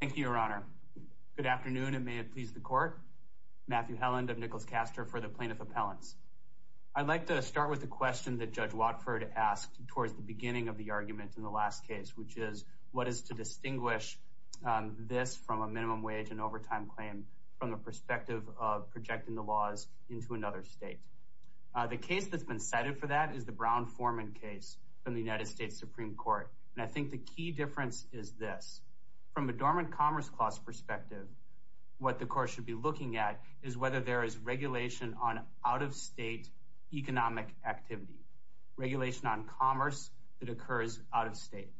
Thank you, Your Honor. Good afternoon, and may it please the Court. Matthew Helland of Nicholas Caster for the Plaintiff Appellants. I'd like to start with a question that Judge Watford asked towards the beginning of the argument in the last case, which is what is to distinguish this from a minimum wage and overtime claim from the perspective of projecting the laws into another state. The case that's been cited for that is the Brown-Forman case from the United States Supreme Court, and I think the key difference is this. From a dormant commerce clause perspective, what the Court should be looking at is whether there is regulation on out-of-state economic activity, regulation on commerce that occurs out-of-state.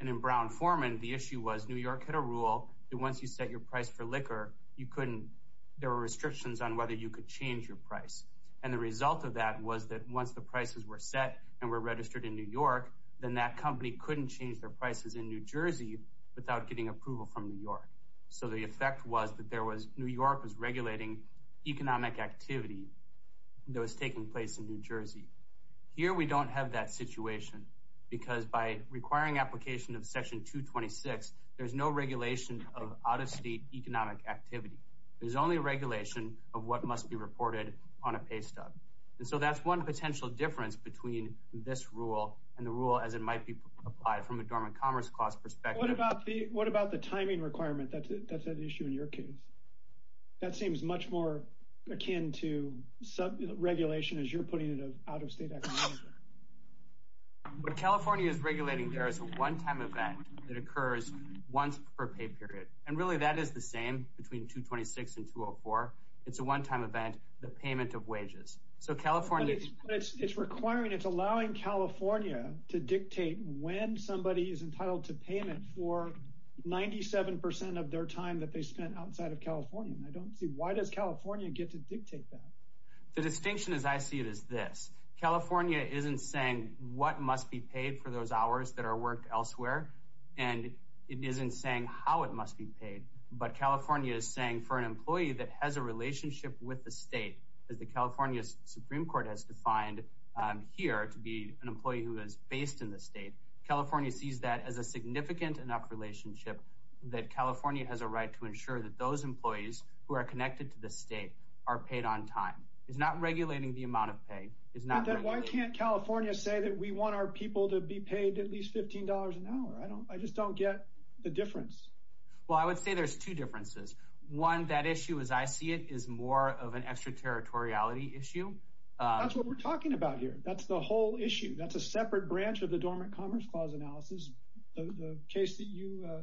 And in Brown-Forman, the issue was New York had a rule that once you set your price for liquor, there were restrictions on whether you could change your price. And the result of that was that once the prices were set and were registered in New York, then that company couldn't change their prices in New Jersey without getting approval from New York. So the effect was that New York was regulating economic activity that was taking place in New Jersey. Here, we don't have that situation because by requiring application of Section 226, there's no regulation of out-of-state economic activity. There's only regulation of what must be reported on a pay stub. And so that's one potential difference between this rule and the rule as it might be applied from a dormant commerce clause perspective. What about the timing requirement that's at issue in your case? That seems much more akin to regulation as you're putting it out-of-state economic activity. What California is regulating there is a one-time event that occurs once per pay period. And really that is the same between 226 and 204. It's a one-time event, the payment of wages. But it's requiring, it's allowing California to dictate when somebody is entitled to payment for 97% of their time that they spent outside of California. And I don't see, why does California get to dictate that? The distinction, as I see it, is this. California isn't saying what must be paid for those hours that are worked elsewhere. And it isn't saying how it must be paid. But California is saying for an employee that has a relationship with the state, as the California Supreme Court has defined here to be an employee who is based in the state, California sees that as a significant enough relationship that California has a right to ensure that those employees who are connected to the state are paid on time. It's not regulating the amount of pay. Why can't California say that we want our people to be paid at least $15 an hour? I just don't get the difference. Well, I would say there's two differences. One, that issue, as I see it, is more of an extraterritoriality issue. That's what we're talking about here. That's the whole issue. That's a separate branch of the Dormant Commerce Clause analysis. The case that you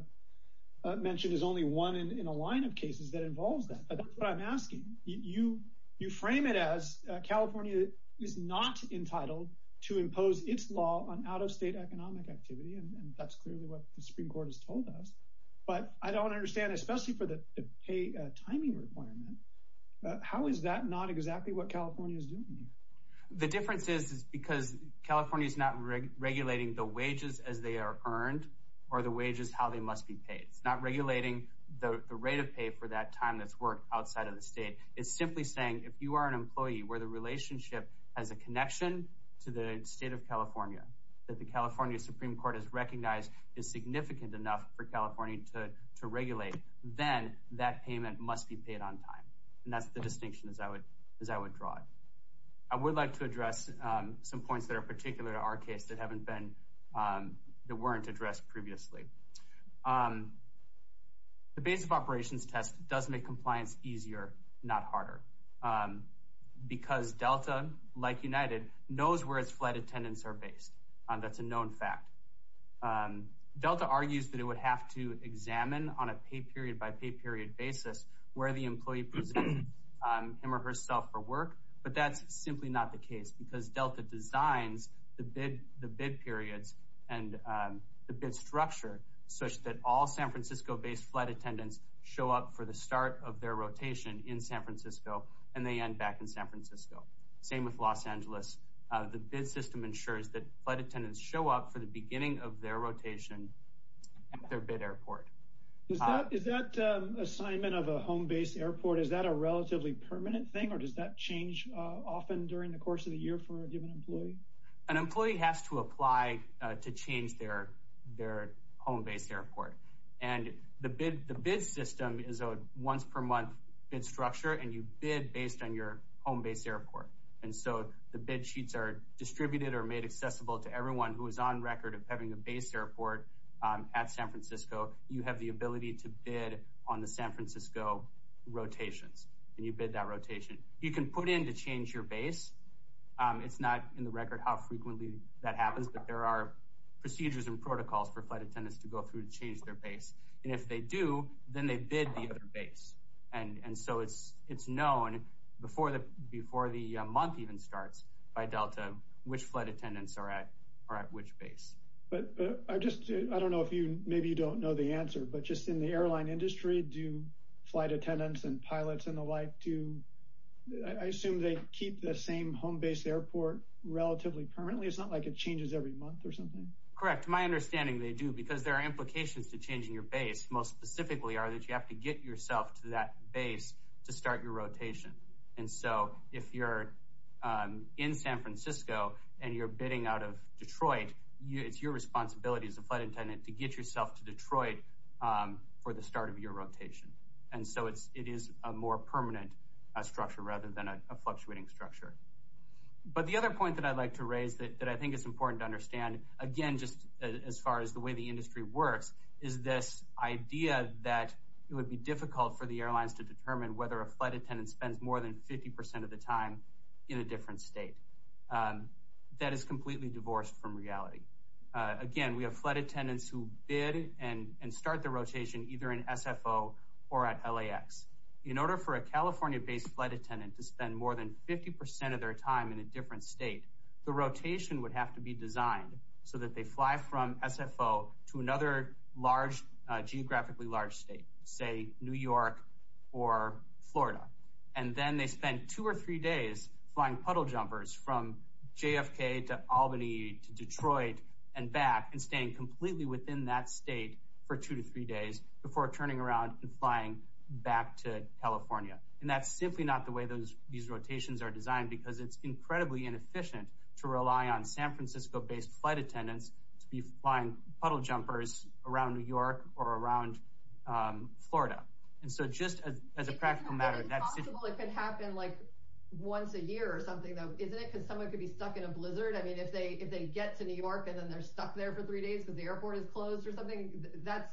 mentioned is only one in a line of cases that involves that. But that's what I'm asking. You frame it as California is not entitled to impose its law on out-of-state economic activity. And that's clearly what the Supreme Court has told us. But I don't understand, especially for the pay timing requirement, how is that not exactly what California is doing here? The difference is because California is not regulating the wages as they are earned or the wages how they must be paid. It's not regulating the rate of pay for that time that's worked outside of the state. It's simply saying, if you are an employee where the relationship has a connection to the state of California, that the California Supreme Court has recognized is significant enough for California to regulate, then that payment must be paid on time. And that's the distinction, as I would draw it. I would like to address some points that are particular to our case that weren't addressed previously. The base of operations test does make compliance easier, not harder. Because Delta, like United, knows where its flight attendants are based. That's a known fact. Delta argues that it would have to examine on a pay-period-by-pay-period basis where the employee presents him or herself for work. But that's simply not the case because Delta designs the bid periods and the bid structure such that all San Francisco-based flight attendants show up for the start of their rotation in San Francisco and they end back in San Francisco. Same with Los Angeles. The bid system ensures that flight attendants show up for the beginning of their rotation at their bid airport. Is that assignment of a home-based airport, is that a relatively permanent thing? Or does that change often during the course of the year for a given employee? An employee has to apply to change their home-based airport. And the bid system is a once-per-month bid structure, and you bid based on your home-based airport. And so the bid sheets are distributed or made accessible to everyone who is on record of having a base airport at San Francisco. You have the ability to bid on the San Francisco rotations, and you bid that rotation. You can put in to change your base. It's not in the record how frequently that happens, but there are procedures and protocols for flight attendants to go through to change their base. And if they do, then they bid the other base. And so it's known before the month even starts by Delta, which flight attendants are at which base. I don't know if you, maybe you don't know the answer, but just in the airline industry, do flight attendants and pilots and the like, do I assume they keep the same home-based airport relatively permanently? It's not like it changes every month or something. Correct. My understanding, they do, because there are implications to changing your base. Most specifically are that you have to get yourself to that base to start your rotation. And so if you're in San Francisco and you're bidding out of Detroit, it's your responsibility as a flight attendant to get yourself to Detroit for the start of your rotation. And so it is a more permanent structure rather than a fluctuating structure. But the other point that I'd like to raise that I think is important to understand, again, just as far as the way the industry works, is this idea that it would be difficult for the airlines to determine whether a flight attendant spends more than 50% of the time in a different state. That is completely divorced from reality. Again, we have flight attendants who bid and start the rotation either in SFO or at LAX. In order for a California-based flight attendant to spend more than 50% of their time in a different state, the rotation would have to be designed so that they fly from SFO to another large, geographically large state, say New York or Florida. And then they spend two or three days flying puddle jumpers from JFK to Albany to Detroit and back and staying completely within that state for two to three days before turning around and flying back to California. And that's simply not the way these rotations are designed because it's incredibly inefficient to rely on San Francisco-based flight attendants to be flying puddle jumpers around New York or around Florida. And so just as a practical matter, that's- It's possible it could happen like once a year or something though, isn't it? Because someone could be stuck in a blizzard. I mean, if they get to New York and then they're stuck there for three days because the airport is closed or something, that's,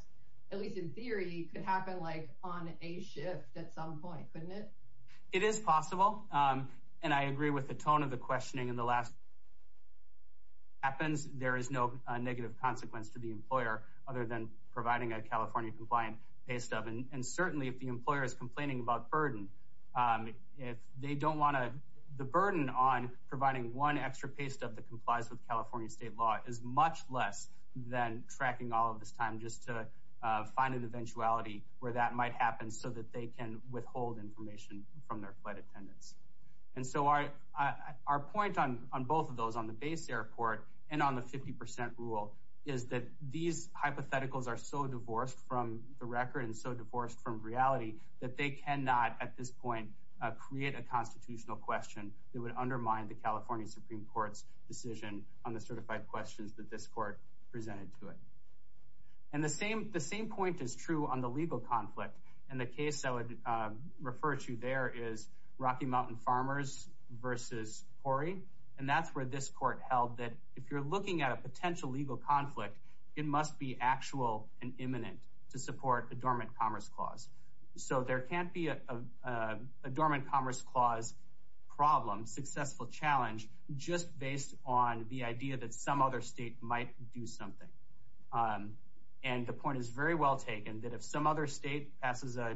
at least in theory, could happen like on a shift at some point. It is possible. And I agree with the tone of the questioning in the last- happens. There is no negative consequence to the employer other than providing a California-compliant pay stub. And certainly, if the employer is complaining about burden, if they don't want to- the burden on providing one extra pay stub that complies with California state law is much less than tracking all of this time just to find an eventuality where that might happen so that they can withhold information from their flight attendants. And so our point on both of those, on the base airport and on the 50% rule, is that these hypotheticals are so divorced from the record and so divorced from reality that they cannot, at this point, create a constitutional question that would undermine the California Supreme Court's decision on the certified questions that this court presented to it. And the same point is true on the legal conflict. And the case I would refer to there is Rocky Mountain Farmers versus Corey. And that's where this court held that if you're looking at a potential legal conflict, it must be actual and imminent to support a dormant commerce clause. So there can't be a dormant commerce clause problem, successful challenge, just based on the idea that some other state might do something. And the point is very well taken that if some other state passes a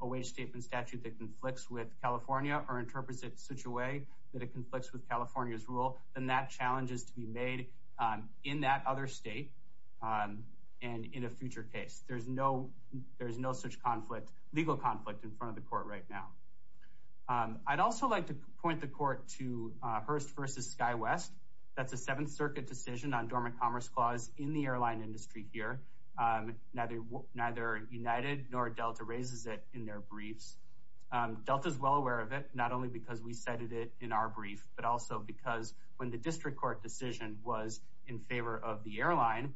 wage statement statute that conflicts with California or interprets it such a way that it conflicts with California's rule, then that challenge is to be made in that other state and in a future case. There's no such conflict, legal conflict, in front of the court right now. I'd also like to point the court to Hearst versus SkyWest. That's a Seventh Circuit decision on dormant commerce clause in the airline industry here. Neither United nor Delta raises it in their briefs. Delta's well aware of it, not only because we cited it in our brief, but also because when the district court decision was in favor of the airline,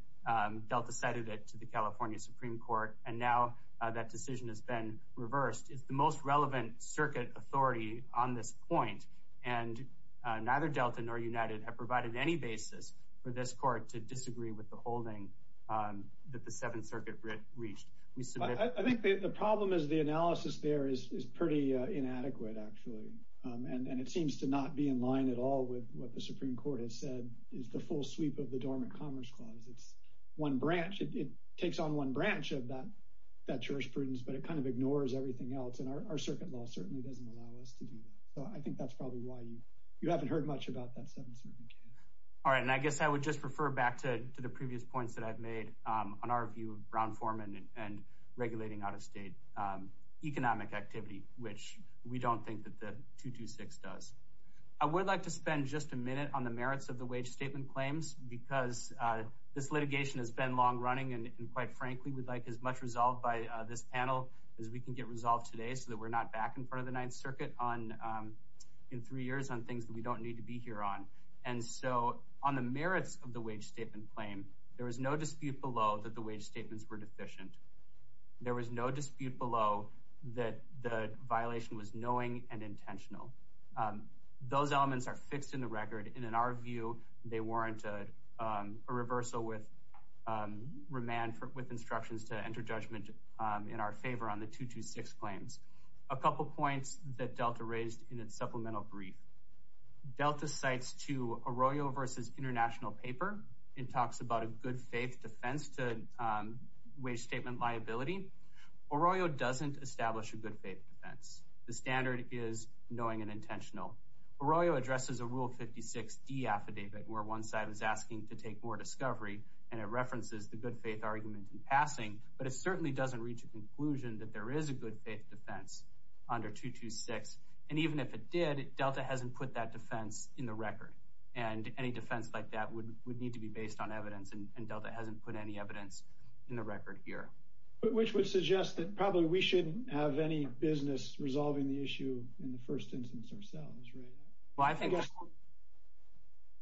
Delta cited it to the California Supreme Court. And now that decision has been reversed. It's the most relevant circuit authority on this point. And neither Delta nor United have provided any basis for this court to disagree with the holding that the Seventh Circuit reached. I think the problem is the analysis there is pretty inadequate, actually. And it seems to not be in line at all with what the Supreme Court has said is the full sweep of the dormant commerce clause. It's one branch. It takes on one branch of that jurisprudence, but it kind of ignores everything else. And our circuit law certainly doesn't allow us to do that. I think that's probably why you haven't heard much about that Seventh Circuit case. All right. And I guess I would just refer back to the previous points that I've made on our view of brown foreman and regulating out-of-state economic activity, which we don't think that the 226 does. I would like to spend just a minute on the merits of the wage statement claims, because this litigation has been long running, and quite frankly, we'd like as much resolved by this panel as we can get resolved today so that we're not back in front of the Ninth in three years on things that we don't need to be here on. And so on the merits of the wage statement claim, there was no dispute below that the wage statements were deficient. There was no dispute below that the violation was knowing and intentional. Those elements are fixed in the record, and in our view, they warrant a reversal with remand with instructions to enter judgment in our favor on the 226 claims. A couple points that Delta raised in its supplemental brief. Delta cites to Arroyo versus International Paper. It talks about a good faith defense to wage statement liability. Arroyo doesn't establish a good faith defense. The standard is knowing and intentional. Arroyo addresses a Rule 56D affidavit where one side was asking to take more discovery, and it references the good faith argument in passing, but it certainly doesn't reach a conclusion that there is a good faith defense under 226. And even if it did, Delta hasn't put that defense in the record. And any defense like that would need to be based on evidence, and Delta hasn't put any evidence in the record here. Which would suggest that probably we shouldn't have any business resolving the issue in the first instance ourselves, right? Well, I think...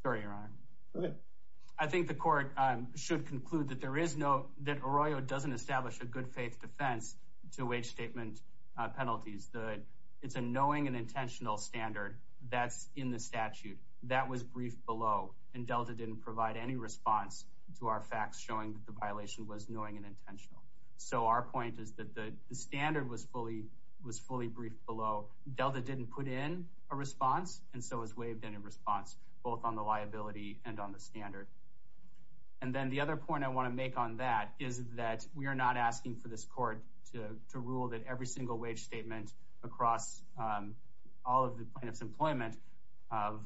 Sorry, Your Honor. Go ahead. I think the court should conclude that there is no... to wage statement penalties. It's a knowing and intentional standard that's in the statute. That was briefed below, and Delta didn't provide any response to our facts showing that the violation was knowing and intentional. So our point is that the standard was fully briefed below. Delta didn't put in a response, and so has waived any response, both on the liability and on the standard. And then the other point I want to make on that is that we are not asking for this court to rule that every single wage statement across all of the plaintiff's employment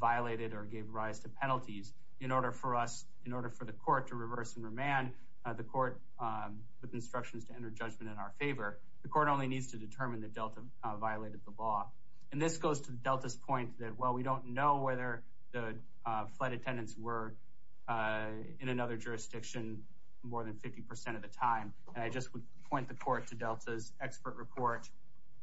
violated or gave rise to penalties. In order for us, in order for the court to reverse and remand the court with instructions to enter judgment in our favor, the court only needs to determine that Delta violated the law. And this goes to Delta's point that while we don't know whether the flight attendants were in another jurisdiction more than 50% of the time, and I just would point the court to Delta's expert report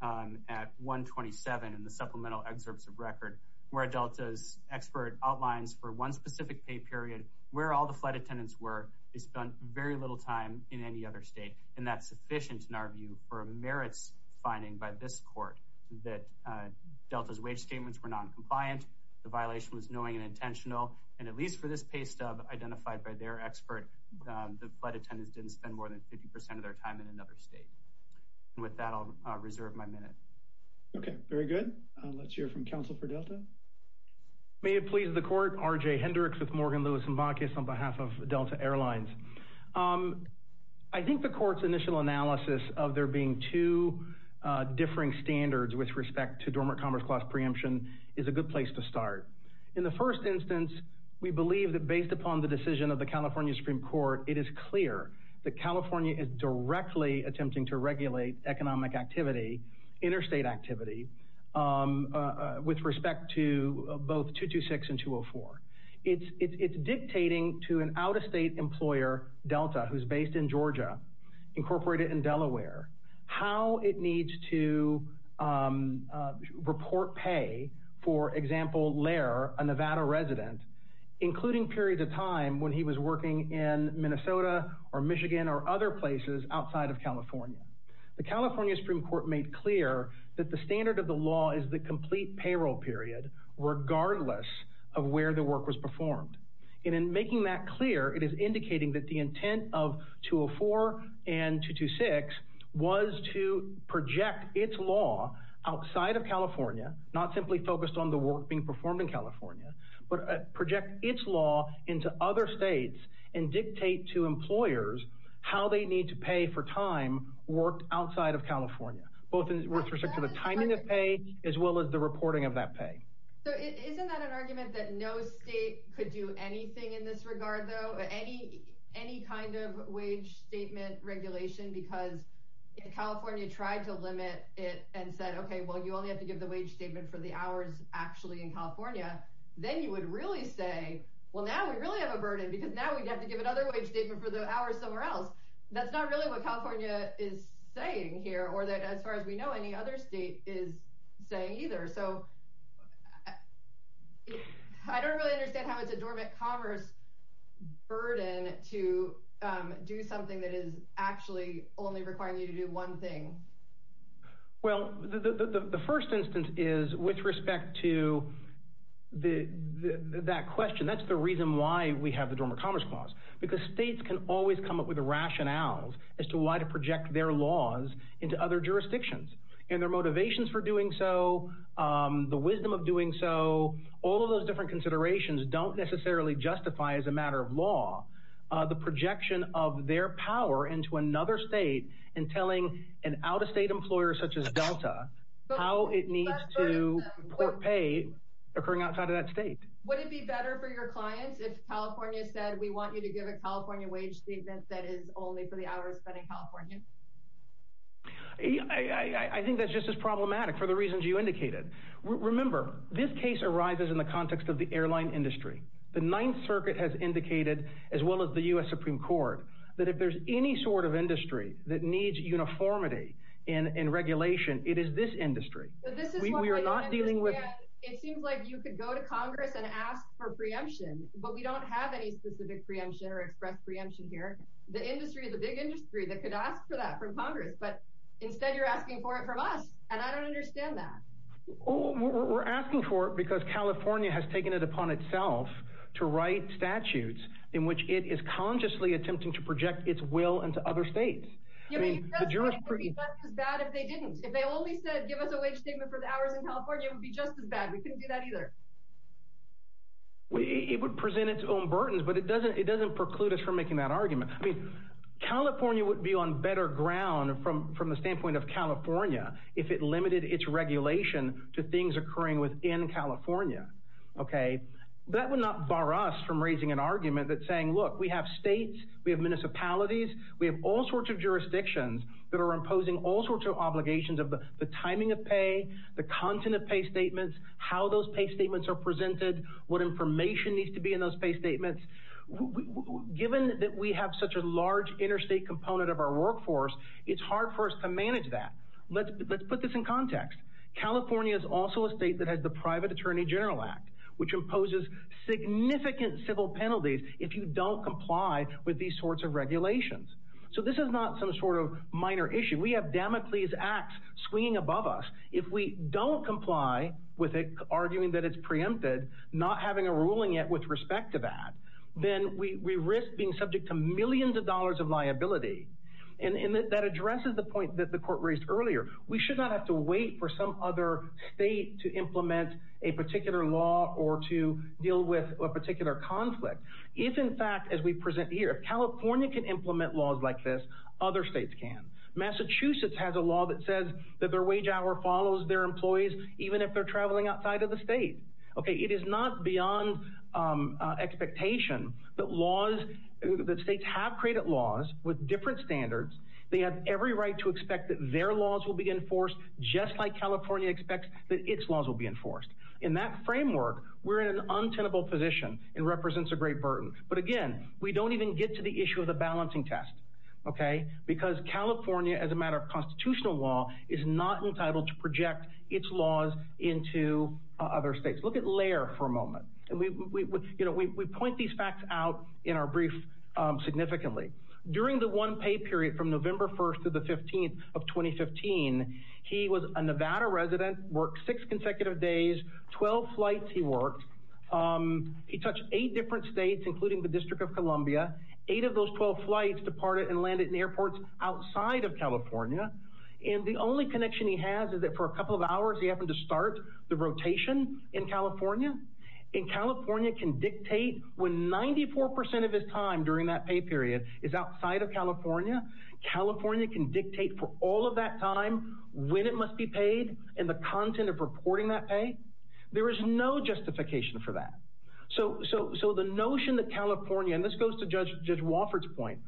at 127 in the supplemental excerpts of record, where Delta's expert outlines for one specific pay period where all the flight attendants were. They spent very little time in any other state, and that's sufficient in our view for a merits finding by this court that Delta's wage statements were noncompliant, the violation was knowing and intentional, and at least for this pay stub identified by their expert, the flight attendants didn't spend more than 50% of their time in another state. And with that, I'll reserve my minute. Okay, very good. Let's hear from counsel for Delta. May it please the court. R.J. Hendricks with Morgan Lewis & Bacchus on behalf of Delta Airlines. I think the court's initial analysis of there being two differing standards with respect to dormant commerce clause preemption is a good place to start. In the first instance, we believe that based upon the decision of the California Supreme Court, it is clear that California is directly attempting to regulate economic activity, interstate activity, with respect to both 226 and 204. It's dictating to an out-of-state employer, Delta, who's based in Georgia, incorporated in Delaware, how it needs to report pay, for example, Lair, a Nevada resident, including periods of time when he was working in Minnesota or Michigan or other places outside of California. The California Supreme Court made clear that the standard of the law is the complete payroll period, regardless of where the work was performed. And in making that clear, it is indicating that the intent of 204 and 226 was to project its law outside of California, not simply focused on the work being performed in California, but project its law into other states and dictate to employers how they need to pay for time worked outside of California, both with respect to the timing of pay, as well as the reporting of that pay. So isn't that an argument that no state could do anything in this regard, though, any kind of wage statement regulation? Because if California tried to limit it and said, OK, well, you only have to give the wage statement for the hours actually in California, then you would really say, well, now we really have a burden, because now we'd have to give another wage statement for the hours somewhere else. That's not really what California is saying here, or that, as far as we know, any other state is saying either. So I don't really understand how it's a Dormant Commerce burden to do something that is actually only requiring you to do one thing. Well, the first instance is with respect to that question. That's the reason why we have the Dormant Commerce Clause, because states can always come up with rationales as to why to project their laws into other jurisdictions. And their motivations for doing so, the wisdom of doing so, all of those different considerations don't necessarily justify, as a matter of law, the projection of their power into another state and telling an out-of-state employer such as Delta how it needs to port pay occurring outside of that state. Would it be better for your clients if California said, we want you to give a California wage statement that is only for the hours spent in California? I think that's just as problematic for the reasons you indicated. Remember, this case arises in the context of the airline industry. The Ninth Circuit has indicated, as well as the U.S. Supreme Court, that if there's any sort of industry that needs uniformity in regulation, it is this industry. But this is what we understand. We are not dealing with— It seems like you could go to Congress and ask for preemption, but we don't have any specific preemption or express preemption here. The industry, the big industry, that could ask for that from Congress, but instead you're asking for it from us, and I don't understand that. We're asking for it because California has taken it upon itself to write statutes in which it is consciously attempting to project its will into other states. I mean, the jurisprudence— I mean, it would be just as bad if they didn't. If they only said, give us a wage statement for the hours in California, it would be just as bad. We couldn't do that either. It would present its own burdens, but it doesn't preclude us from making that argument. California would be on better ground from the standpoint of California if it limited its regulation to things occurring within California. That would not bar us from raising an argument that's saying, look, we have states, we have municipalities, we have all sorts of jurisdictions that are imposing all sorts of obligations of the timing of pay, the content of pay statements, how those pay statements are presented, what information needs to be in those pay statements. Given that we have such a large interstate component of our workforce, it's hard for us to manage that. Let's put this in context. California is also a state that has the Private Attorney General Act, which imposes significant civil penalties if you don't comply with these sorts of regulations. So this is not some sort of minor issue. We have Damocles Act swinging above us. If we don't comply with it, arguing that it's preempted, not having a ruling yet with respect to that, then we risk being subject to millions of dollars of liability. And that addresses the point that the court raised earlier. We should not have to wait for some other state to implement a particular law or to deal with a particular conflict. If, in fact, as we present here, if California can implement laws like this, other states can. Massachusetts has a law that says that their wage hour follows their employees even if they're traveling outside of the state. It is not beyond expectation that states have created laws with different standards. They have every right to expect that their laws will be enforced just like California expects that its laws will be enforced. In that framework, we're in an untenable position. It represents a great burden. But again, we don't even get to the issue of the balancing test because California, as a matter of constitutional law, is not entitled to project its laws into other states. Look at Laird for a moment. And we point these facts out in our brief significantly. During the one-pay period from November 1st to the 15th of 2015, he was a Nevada resident, worked six consecutive days, 12 flights he worked. He touched eight different states, including the District of Columbia. Eight of those 12 flights departed and landed in airports outside of California. And the only connection he has is that for a couple of hours, he happened to start the And California can dictate when 94 percent of his time during that pay period is outside of California, California can dictate for all of that time when it must be paid and the content of reporting that pay. There is no justification for that. So the notion that California, and this goes to Judge Wofford's point,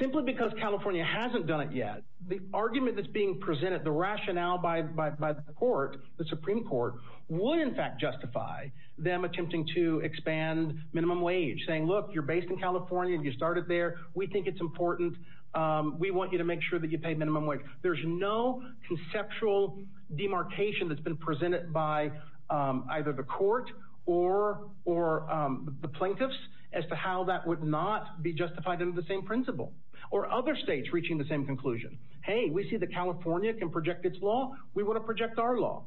simply because California hasn't done it yet, the argument that's being presented, the rationale by the court, the Supreme Court, would in fact justify them attempting to expand minimum wage, saying, look, you're based in California and you started there. We think it's important. We want you to make sure that you pay minimum wage. There's no conceptual demarcation that's been presented by either the court or the plaintiffs as to how that would not be justified under the same principle or other states reaching the same conclusion. Hey, we see that California can project its law. We want to project our law.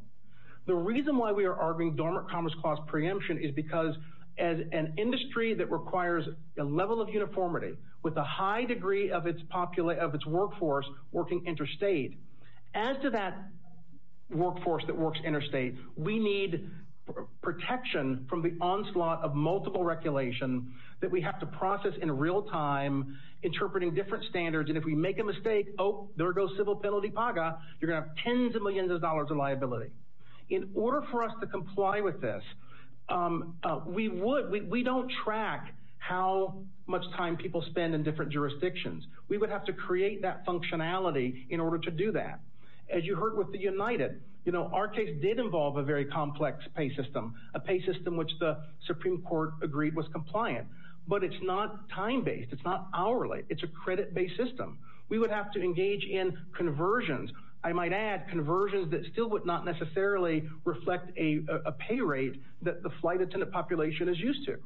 The reason why we are arguing dormant commerce cost preemption is because as an industry that requires a level of uniformity with a high degree of its workforce working interstate, as to that workforce that works interstate, we need protection from the onslaught of multiple regulation that we have to process in real time, interpreting different standards. And if we make a mistake, oh, there goes civil penalty paga. You're going to have tens of millions of dollars of liability. In order for us to comply with this, we don't track how much time people spend in different jurisdictions. We would have to create that functionality in order to do that. As you heard with the United, our case did involve a very complex pay system, a pay system which the Supreme Court agreed was compliant. But it's not time-based. It's not hourly. It's a credit-based system. We would have to engage in conversions. I might add, conversions that still would not necessarily reflect a pay rate that the flight attendant population is used to.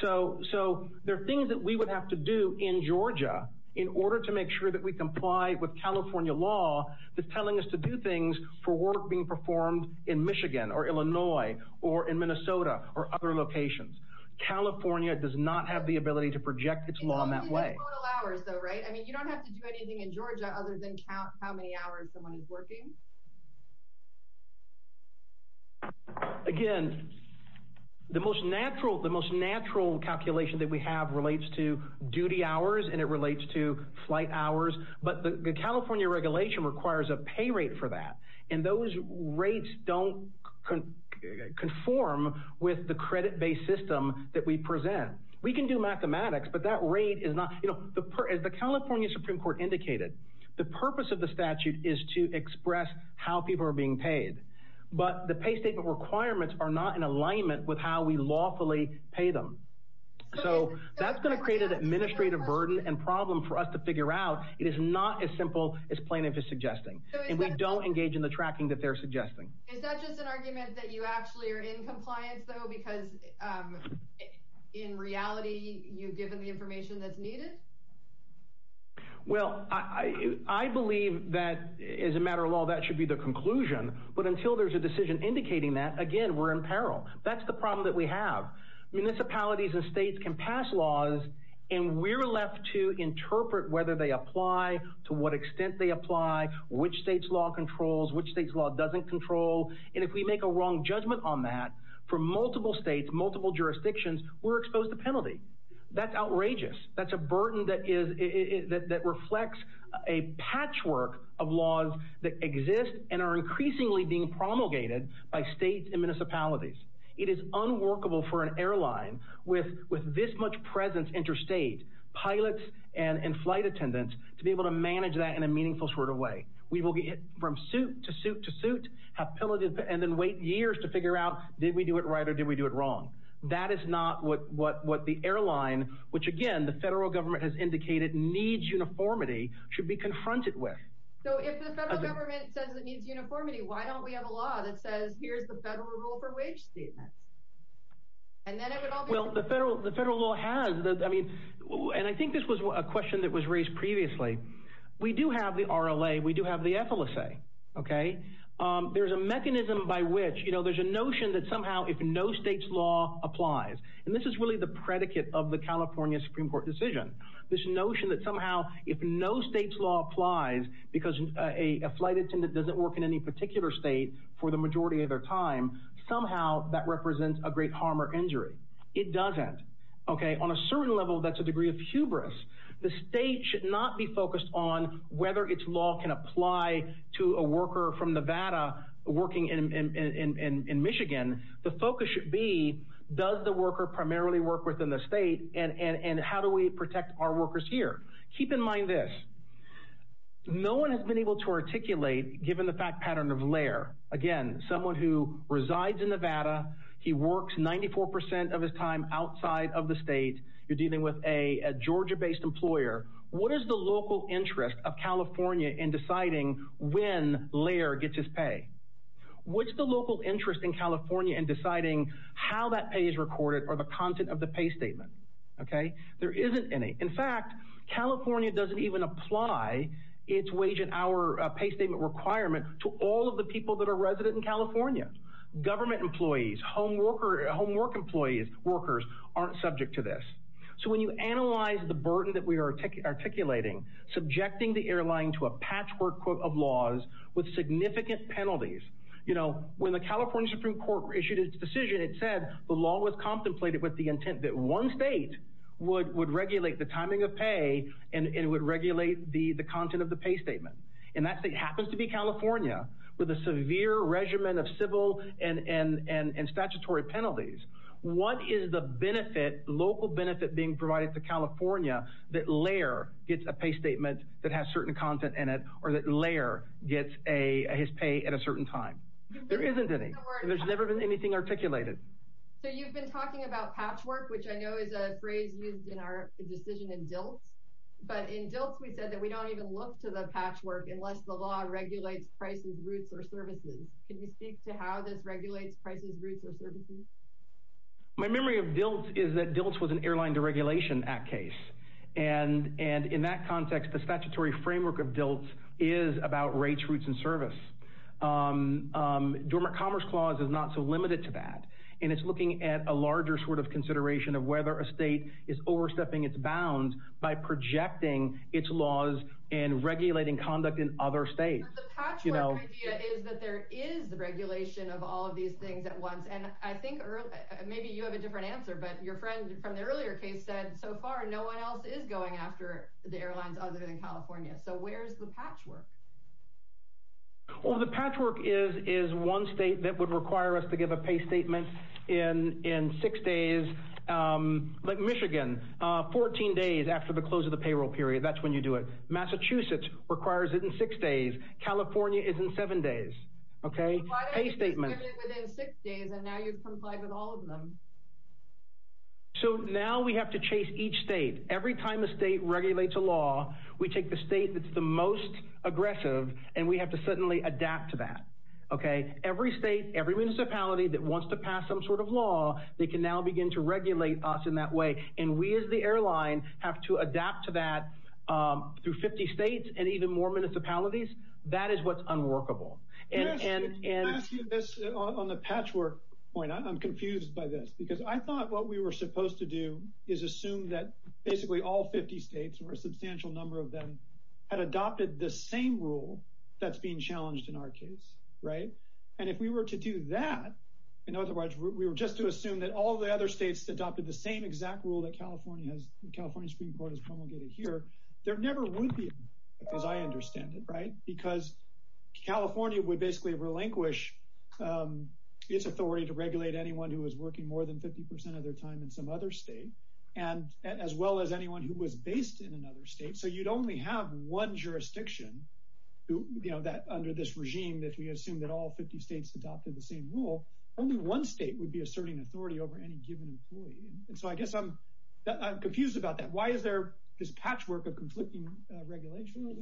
So there are things that we would have to do in Georgia in order to make sure that we comply with California law that's telling us to do things for work being performed in Michigan or Illinois or in Minnesota or other locations. Total hours though, right? I mean, you don't have to do anything in Georgia other than count how many hours someone is working. Again, the most natural calculation that we have relates to duty hours and it relates to flight hours. But the California regulation requires a pay rate for that. And those rates don't conform with the credit-based system that we present. We can do mathematics, but that rate is not, as the California Supreme Court indicated, the purpose of the statute is to express how people are being paid. But the pay statement requirements are not in alignment with how we lawfully pay them. So that's going to create an administrative burden and problem for us to figure out. It is not as simple as plaintiff is suggesting. And we don't engage in the tracking that they're suggesting. Is that just an argument that you actually are in compliance though? Because in reality, you've given the information that's needed? Well, I believe that as a matter of law, that should be the conclusion. But until there's a decision indicating that, again, we're in peril. That's the problem that we have. Municipalities and states can pass laws and we're left to interpret whether they apply, to what extent they apply, which state's law controls, which state's law doesn't control. And if we make a wrong judgment on that, for multiple states, multiple jurisdictions, we're exposed to penalty. That's outrageous. That's a burden that reflects a patchwork of laws that exist and are increasingly being promulgated by states and municipalities. It is unworkable for an airline with this much presence interstate, pilots and flight attendants, to be able to manage that in a meaningful sort of way. We will get from suit to suit to suit, have pillages, and then wait years to figure out, did we do it right or did we do it wrong? That is not what the airline, which again, the federal government has indicated needs uniformity, should be confronted with. So if the federal government says it needs uniformity, why don't we have a law that says, here's the federal rule for wage statements? And then it would all be— The federal law has—and I think this was a question that was raised previously. We do have the RLA. We do have the FLSA. There's a mechanism by which—there's a notion that somehow if no state's law applies—and this is really the predicate of the California Supreme Court decision. This notion that somehow if no state's law applies because a flight attendant doesn't work in any particular state for the majority of their time, somehow that represents a great harm or injury. It doesn't. On a certain level, that's a degree of hubris. The state should not be focused on whether its law can apply to a worker from Nevada working in Michigan. The focus should be, does the worker primarily work within the state, and how do we protect our workers here? Keep in mind this. No one has been able to articulate, given the fact pattern of Lair, again, someone who outside of the state. You're dealing with a Georgia-based employer. What is the local interest of California in deciding when Lair gets his pay? What's the local interest in California in deciding how that pay is recorded or the content of the pay statement? There isn't any. In fact, California doesn't even apply its wage and hour pay statement requirement to all of the people that are resident in California. Government employees, homework employees, workers aren't subject to this. So when you analyze the burden that we are articulating, subjecting the airline to a patchwork of laws with significant penalties. When the California Supreme Court issued its decision, it said the law was contemplated with the intent that one state would regulate the timing of pay and would regulate the content of the pay statement. And that state happens to be California, with a severe regimen of civil and statutory penalties. What is the local benefit being provided to California that Lair gets a pay statement that has certain content in it or that Lair gets his pay at a certain time? There isn't any. There's never been anything articulated. So you've been talking about patchwork, which I know is a phrase used in our decision in our patchwork, unless the law regulates prices, routes, or services. Can you speak to how this regulates prices, routes, or services? My memory of DILT is that DILT was an Airline Deregulation Act case. And in that context, the statutory framework of DILT is about rates, routes, and service. Dormant Commerce Clause is not so limited to that. And it's looking at a larger sort of consideration of whether a state is overstepping its bounds by projecting its laws and regulating conduct in other states. But the patchwork idea is that there is regulation of all of these things at once. And I think maybe you have a different answer. But your friend from the earlier case said, so far, no one else is going after the airlines other than California. So where's the patchwork? Well, the patchwork is one state that would require us to give a pay statement in six days. Like Michigan, 14 days after the close of the payroll period. That's when you do it. Massachusetts requires it in six days. California is in seven days, okay? So why don't you just give it within six days, and now you've complied with all of them? So now we have to chase each state. Every time a state regulates a law, we take the state that's the most aggressive, and we have to suddenly adapt to that, okay? Every state, every municipality that wants to pass some sort of law, they can now begin to regulate us in that way. And we, as the airline, have to adapt to that through 50 states and even more municipalities. That is what's unworkable. Yes, and I'm asking this on the patchwork point. I'm confused by this, because I thought what we were supposed to do is assume that basically all 50 states, or a substantial number of them, had adopted the same rule that's being challenged in our case, right? And if we were to do that, in other words, we were just to assume that all the other states adopted the same exact rule that California Supreme Court has promulgated here, there never would be, as I understand it, right? Because California would basically relinquish its authority to regulate anyone who was working more than 50% of their time in some other state, as well as anyone who was based in another state. So you'd only have one jurisdiction under this regime that we assume that all 50 states adopted the same rule. Only one state would be asserting authority over any given employee. And so I guess I'm confused about that. Why is there this patchwork of conflicting regulation?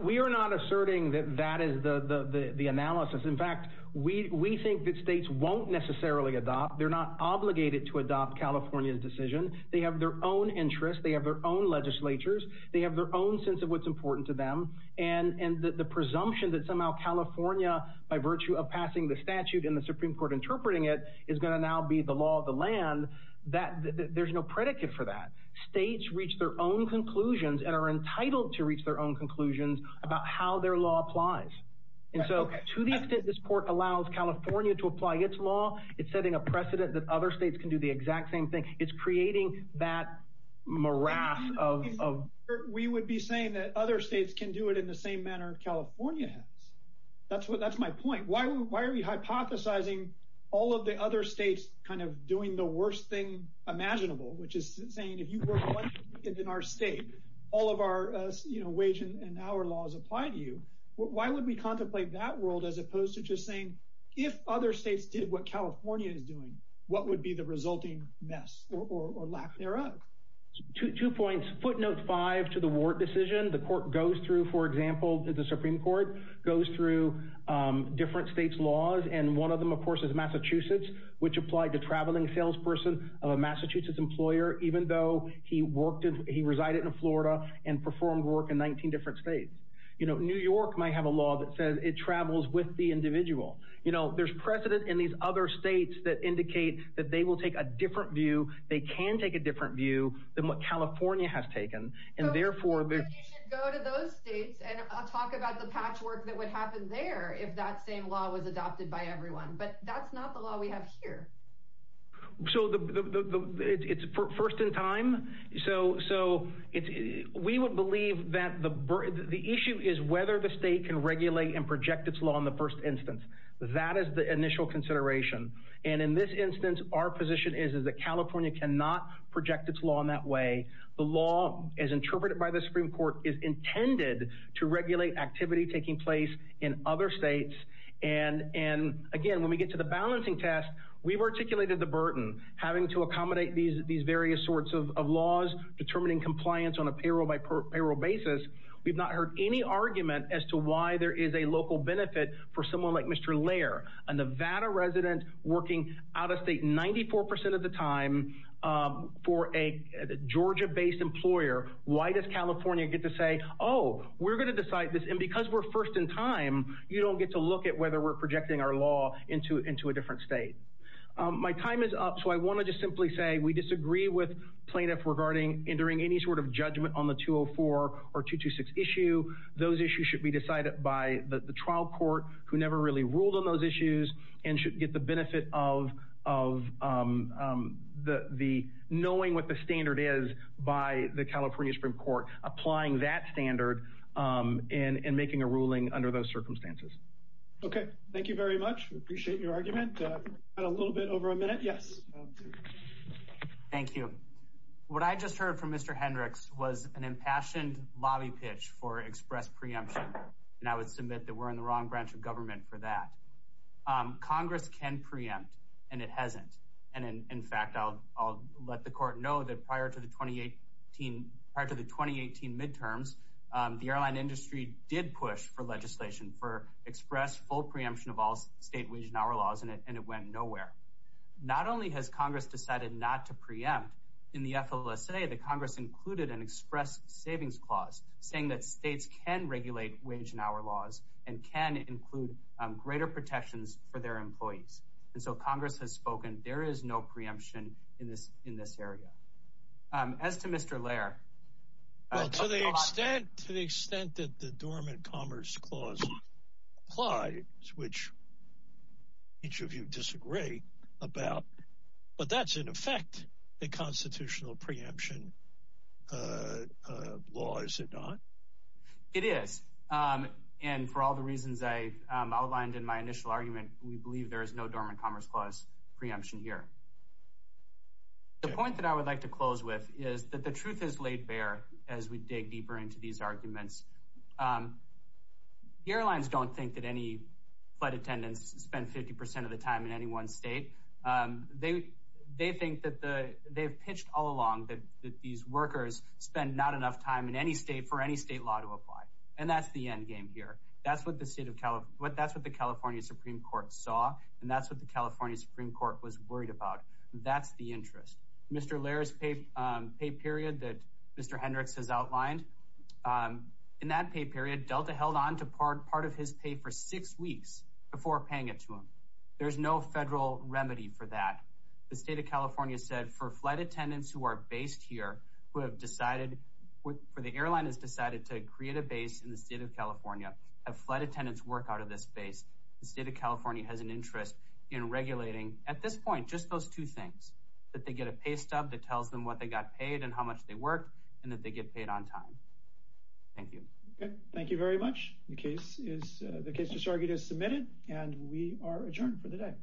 We are not asserting that that is the analysis. In fact, we think that states won't necessarily adopt. They're not obligated to adopt California's decision. They have their own interests. They have their own legislatures. They have their own sense of what's important to them. And the presumption that somehow California, by virtue of passing the statute and the Supreme Court interpreting it, is going to now be the law of the land, there's no predicate for that. States reach their own conclusions and are entitled to reach their own conclusions about how their law applies. And so to the extent this court allows California to apply its law, it's setting a precedent that other states can do the exact same thing. It's creating that morass of... in the same manner California has. That's my point. Why are we hypothesizing all of the other states kind of doing the worst thing imaginable, which is saying, if you were elected in our state, all of our wage and hour laws apply to you. Why would we contemplate that world as opposed to just saying, if other states did what California is doing, what would be the resulting mess or lack thereof? Two points. Footnote five to the Wart decision. The court goes through, for example, the Supreme Court, goes through different states' laws. And one of them, of course, is Massachusetts, which applied to traveling salesperson of a Massachusetts employer, even though he worked in... he resided in Florida and performed work in 19 different states. You know, New York might have a law that says it travels with the individual. You know, there's precedent in these other states that indicate that they will take a different view, they can take a different view than what California has taken. And therefore... So you should go to those states, and I'll talk about the patchwork that would happen there if that same law was adopted by everyone. But that's not the law we have here. So it's first in time. So we would believe that the issue is whether the state can regulate and project its law in the first instance. That is the initial consideration. And in this instance, our position is that California cannot project its law in that way. The law, as interpreted by the Supreme Court, is intended to regulate activity taking place in other states. And again, when we get to the balancing test, we've articulated the burden, having to accommodate these various sorts of laws, determining compliance on a payroll-by-payroll basis. We've not heard any argument as to why there is a local benefit for someone like Mr. Lair, a Nevada resident working out of state 94% of the time for a Georgia-based employer. Why does California get to say, oh, we're going to decide this, and because we're first in time, you don't get to look at whether we're projecting our law into a different state. My time is up, so I want to just simply say we disagree with plaintiffs regarding entering any sort of judgment on the 204 or 226 issue. Those issues should be decided by the trial court, who never really ruled on those issues, and should get the benefit of knowing what the standard is by the California Supreme Court, applying that standard and making a ruling under those circumstances. Okay, thank you very much. We appreciate your argument. We've got a little bit over a minute. Yes. Thank you. What I just heard from Mr. Hendricks was an impassioned lobby pitch for express preemption, and I would submit that we're in the wrong branch of government for that. Congress can preempt, and it hasn't, and in fact, I'll let the court know that prior to the 2018 midterms, the airline industry did push for legislation for express full preemption of all state wage and hour laws, and it went nowhere. Not only has Congress decided not to preempt, in the FLSA, the Congress included an express savings clause, saying that states can regulate wage and hour laws and can include greater protections for their employees, and so Congress has spoken. There is no preemption in this area. As to Mr. Lair... Well, to the extent that the Dormant Commerce Clause applies, which each of you disagree about, but that's, in effect, a constitutional preemption law, is it not? It is, and for all the reasons I outlined in my initial argument, we believe there is no Dormant Commerce Clause preemption here. The point that I would like to close with is that the truth is laid bare as we dig deeper into these arguments. Airlines don't think that any flight attendants spend 50% of the time in any one state. They think that they've pitched all along that these workers spend not enough time in any state for any state law to apply, and that's the endgame here. That's what the California Supreme Court saw, and that's what the California Supreme Court was worried about. That's the interest. Mr. Lair's pay period that Mr. Hendricks has outlined, in that pay period, Delta held on to part of his pay for six weeks before paying it to him. There's no federal remedy for that. The state of California said, for flight attendants who are based here, who have decided... in the state of California, have flight attendants work out of this space, the state of California has an interest in regulating, at this point, just those two things, that they get a pay stub that tells them what they got paid and how much they worked, and that they get paid on time. Thank you. Thank you very much. The case is submitted, and we are adjourned for the day.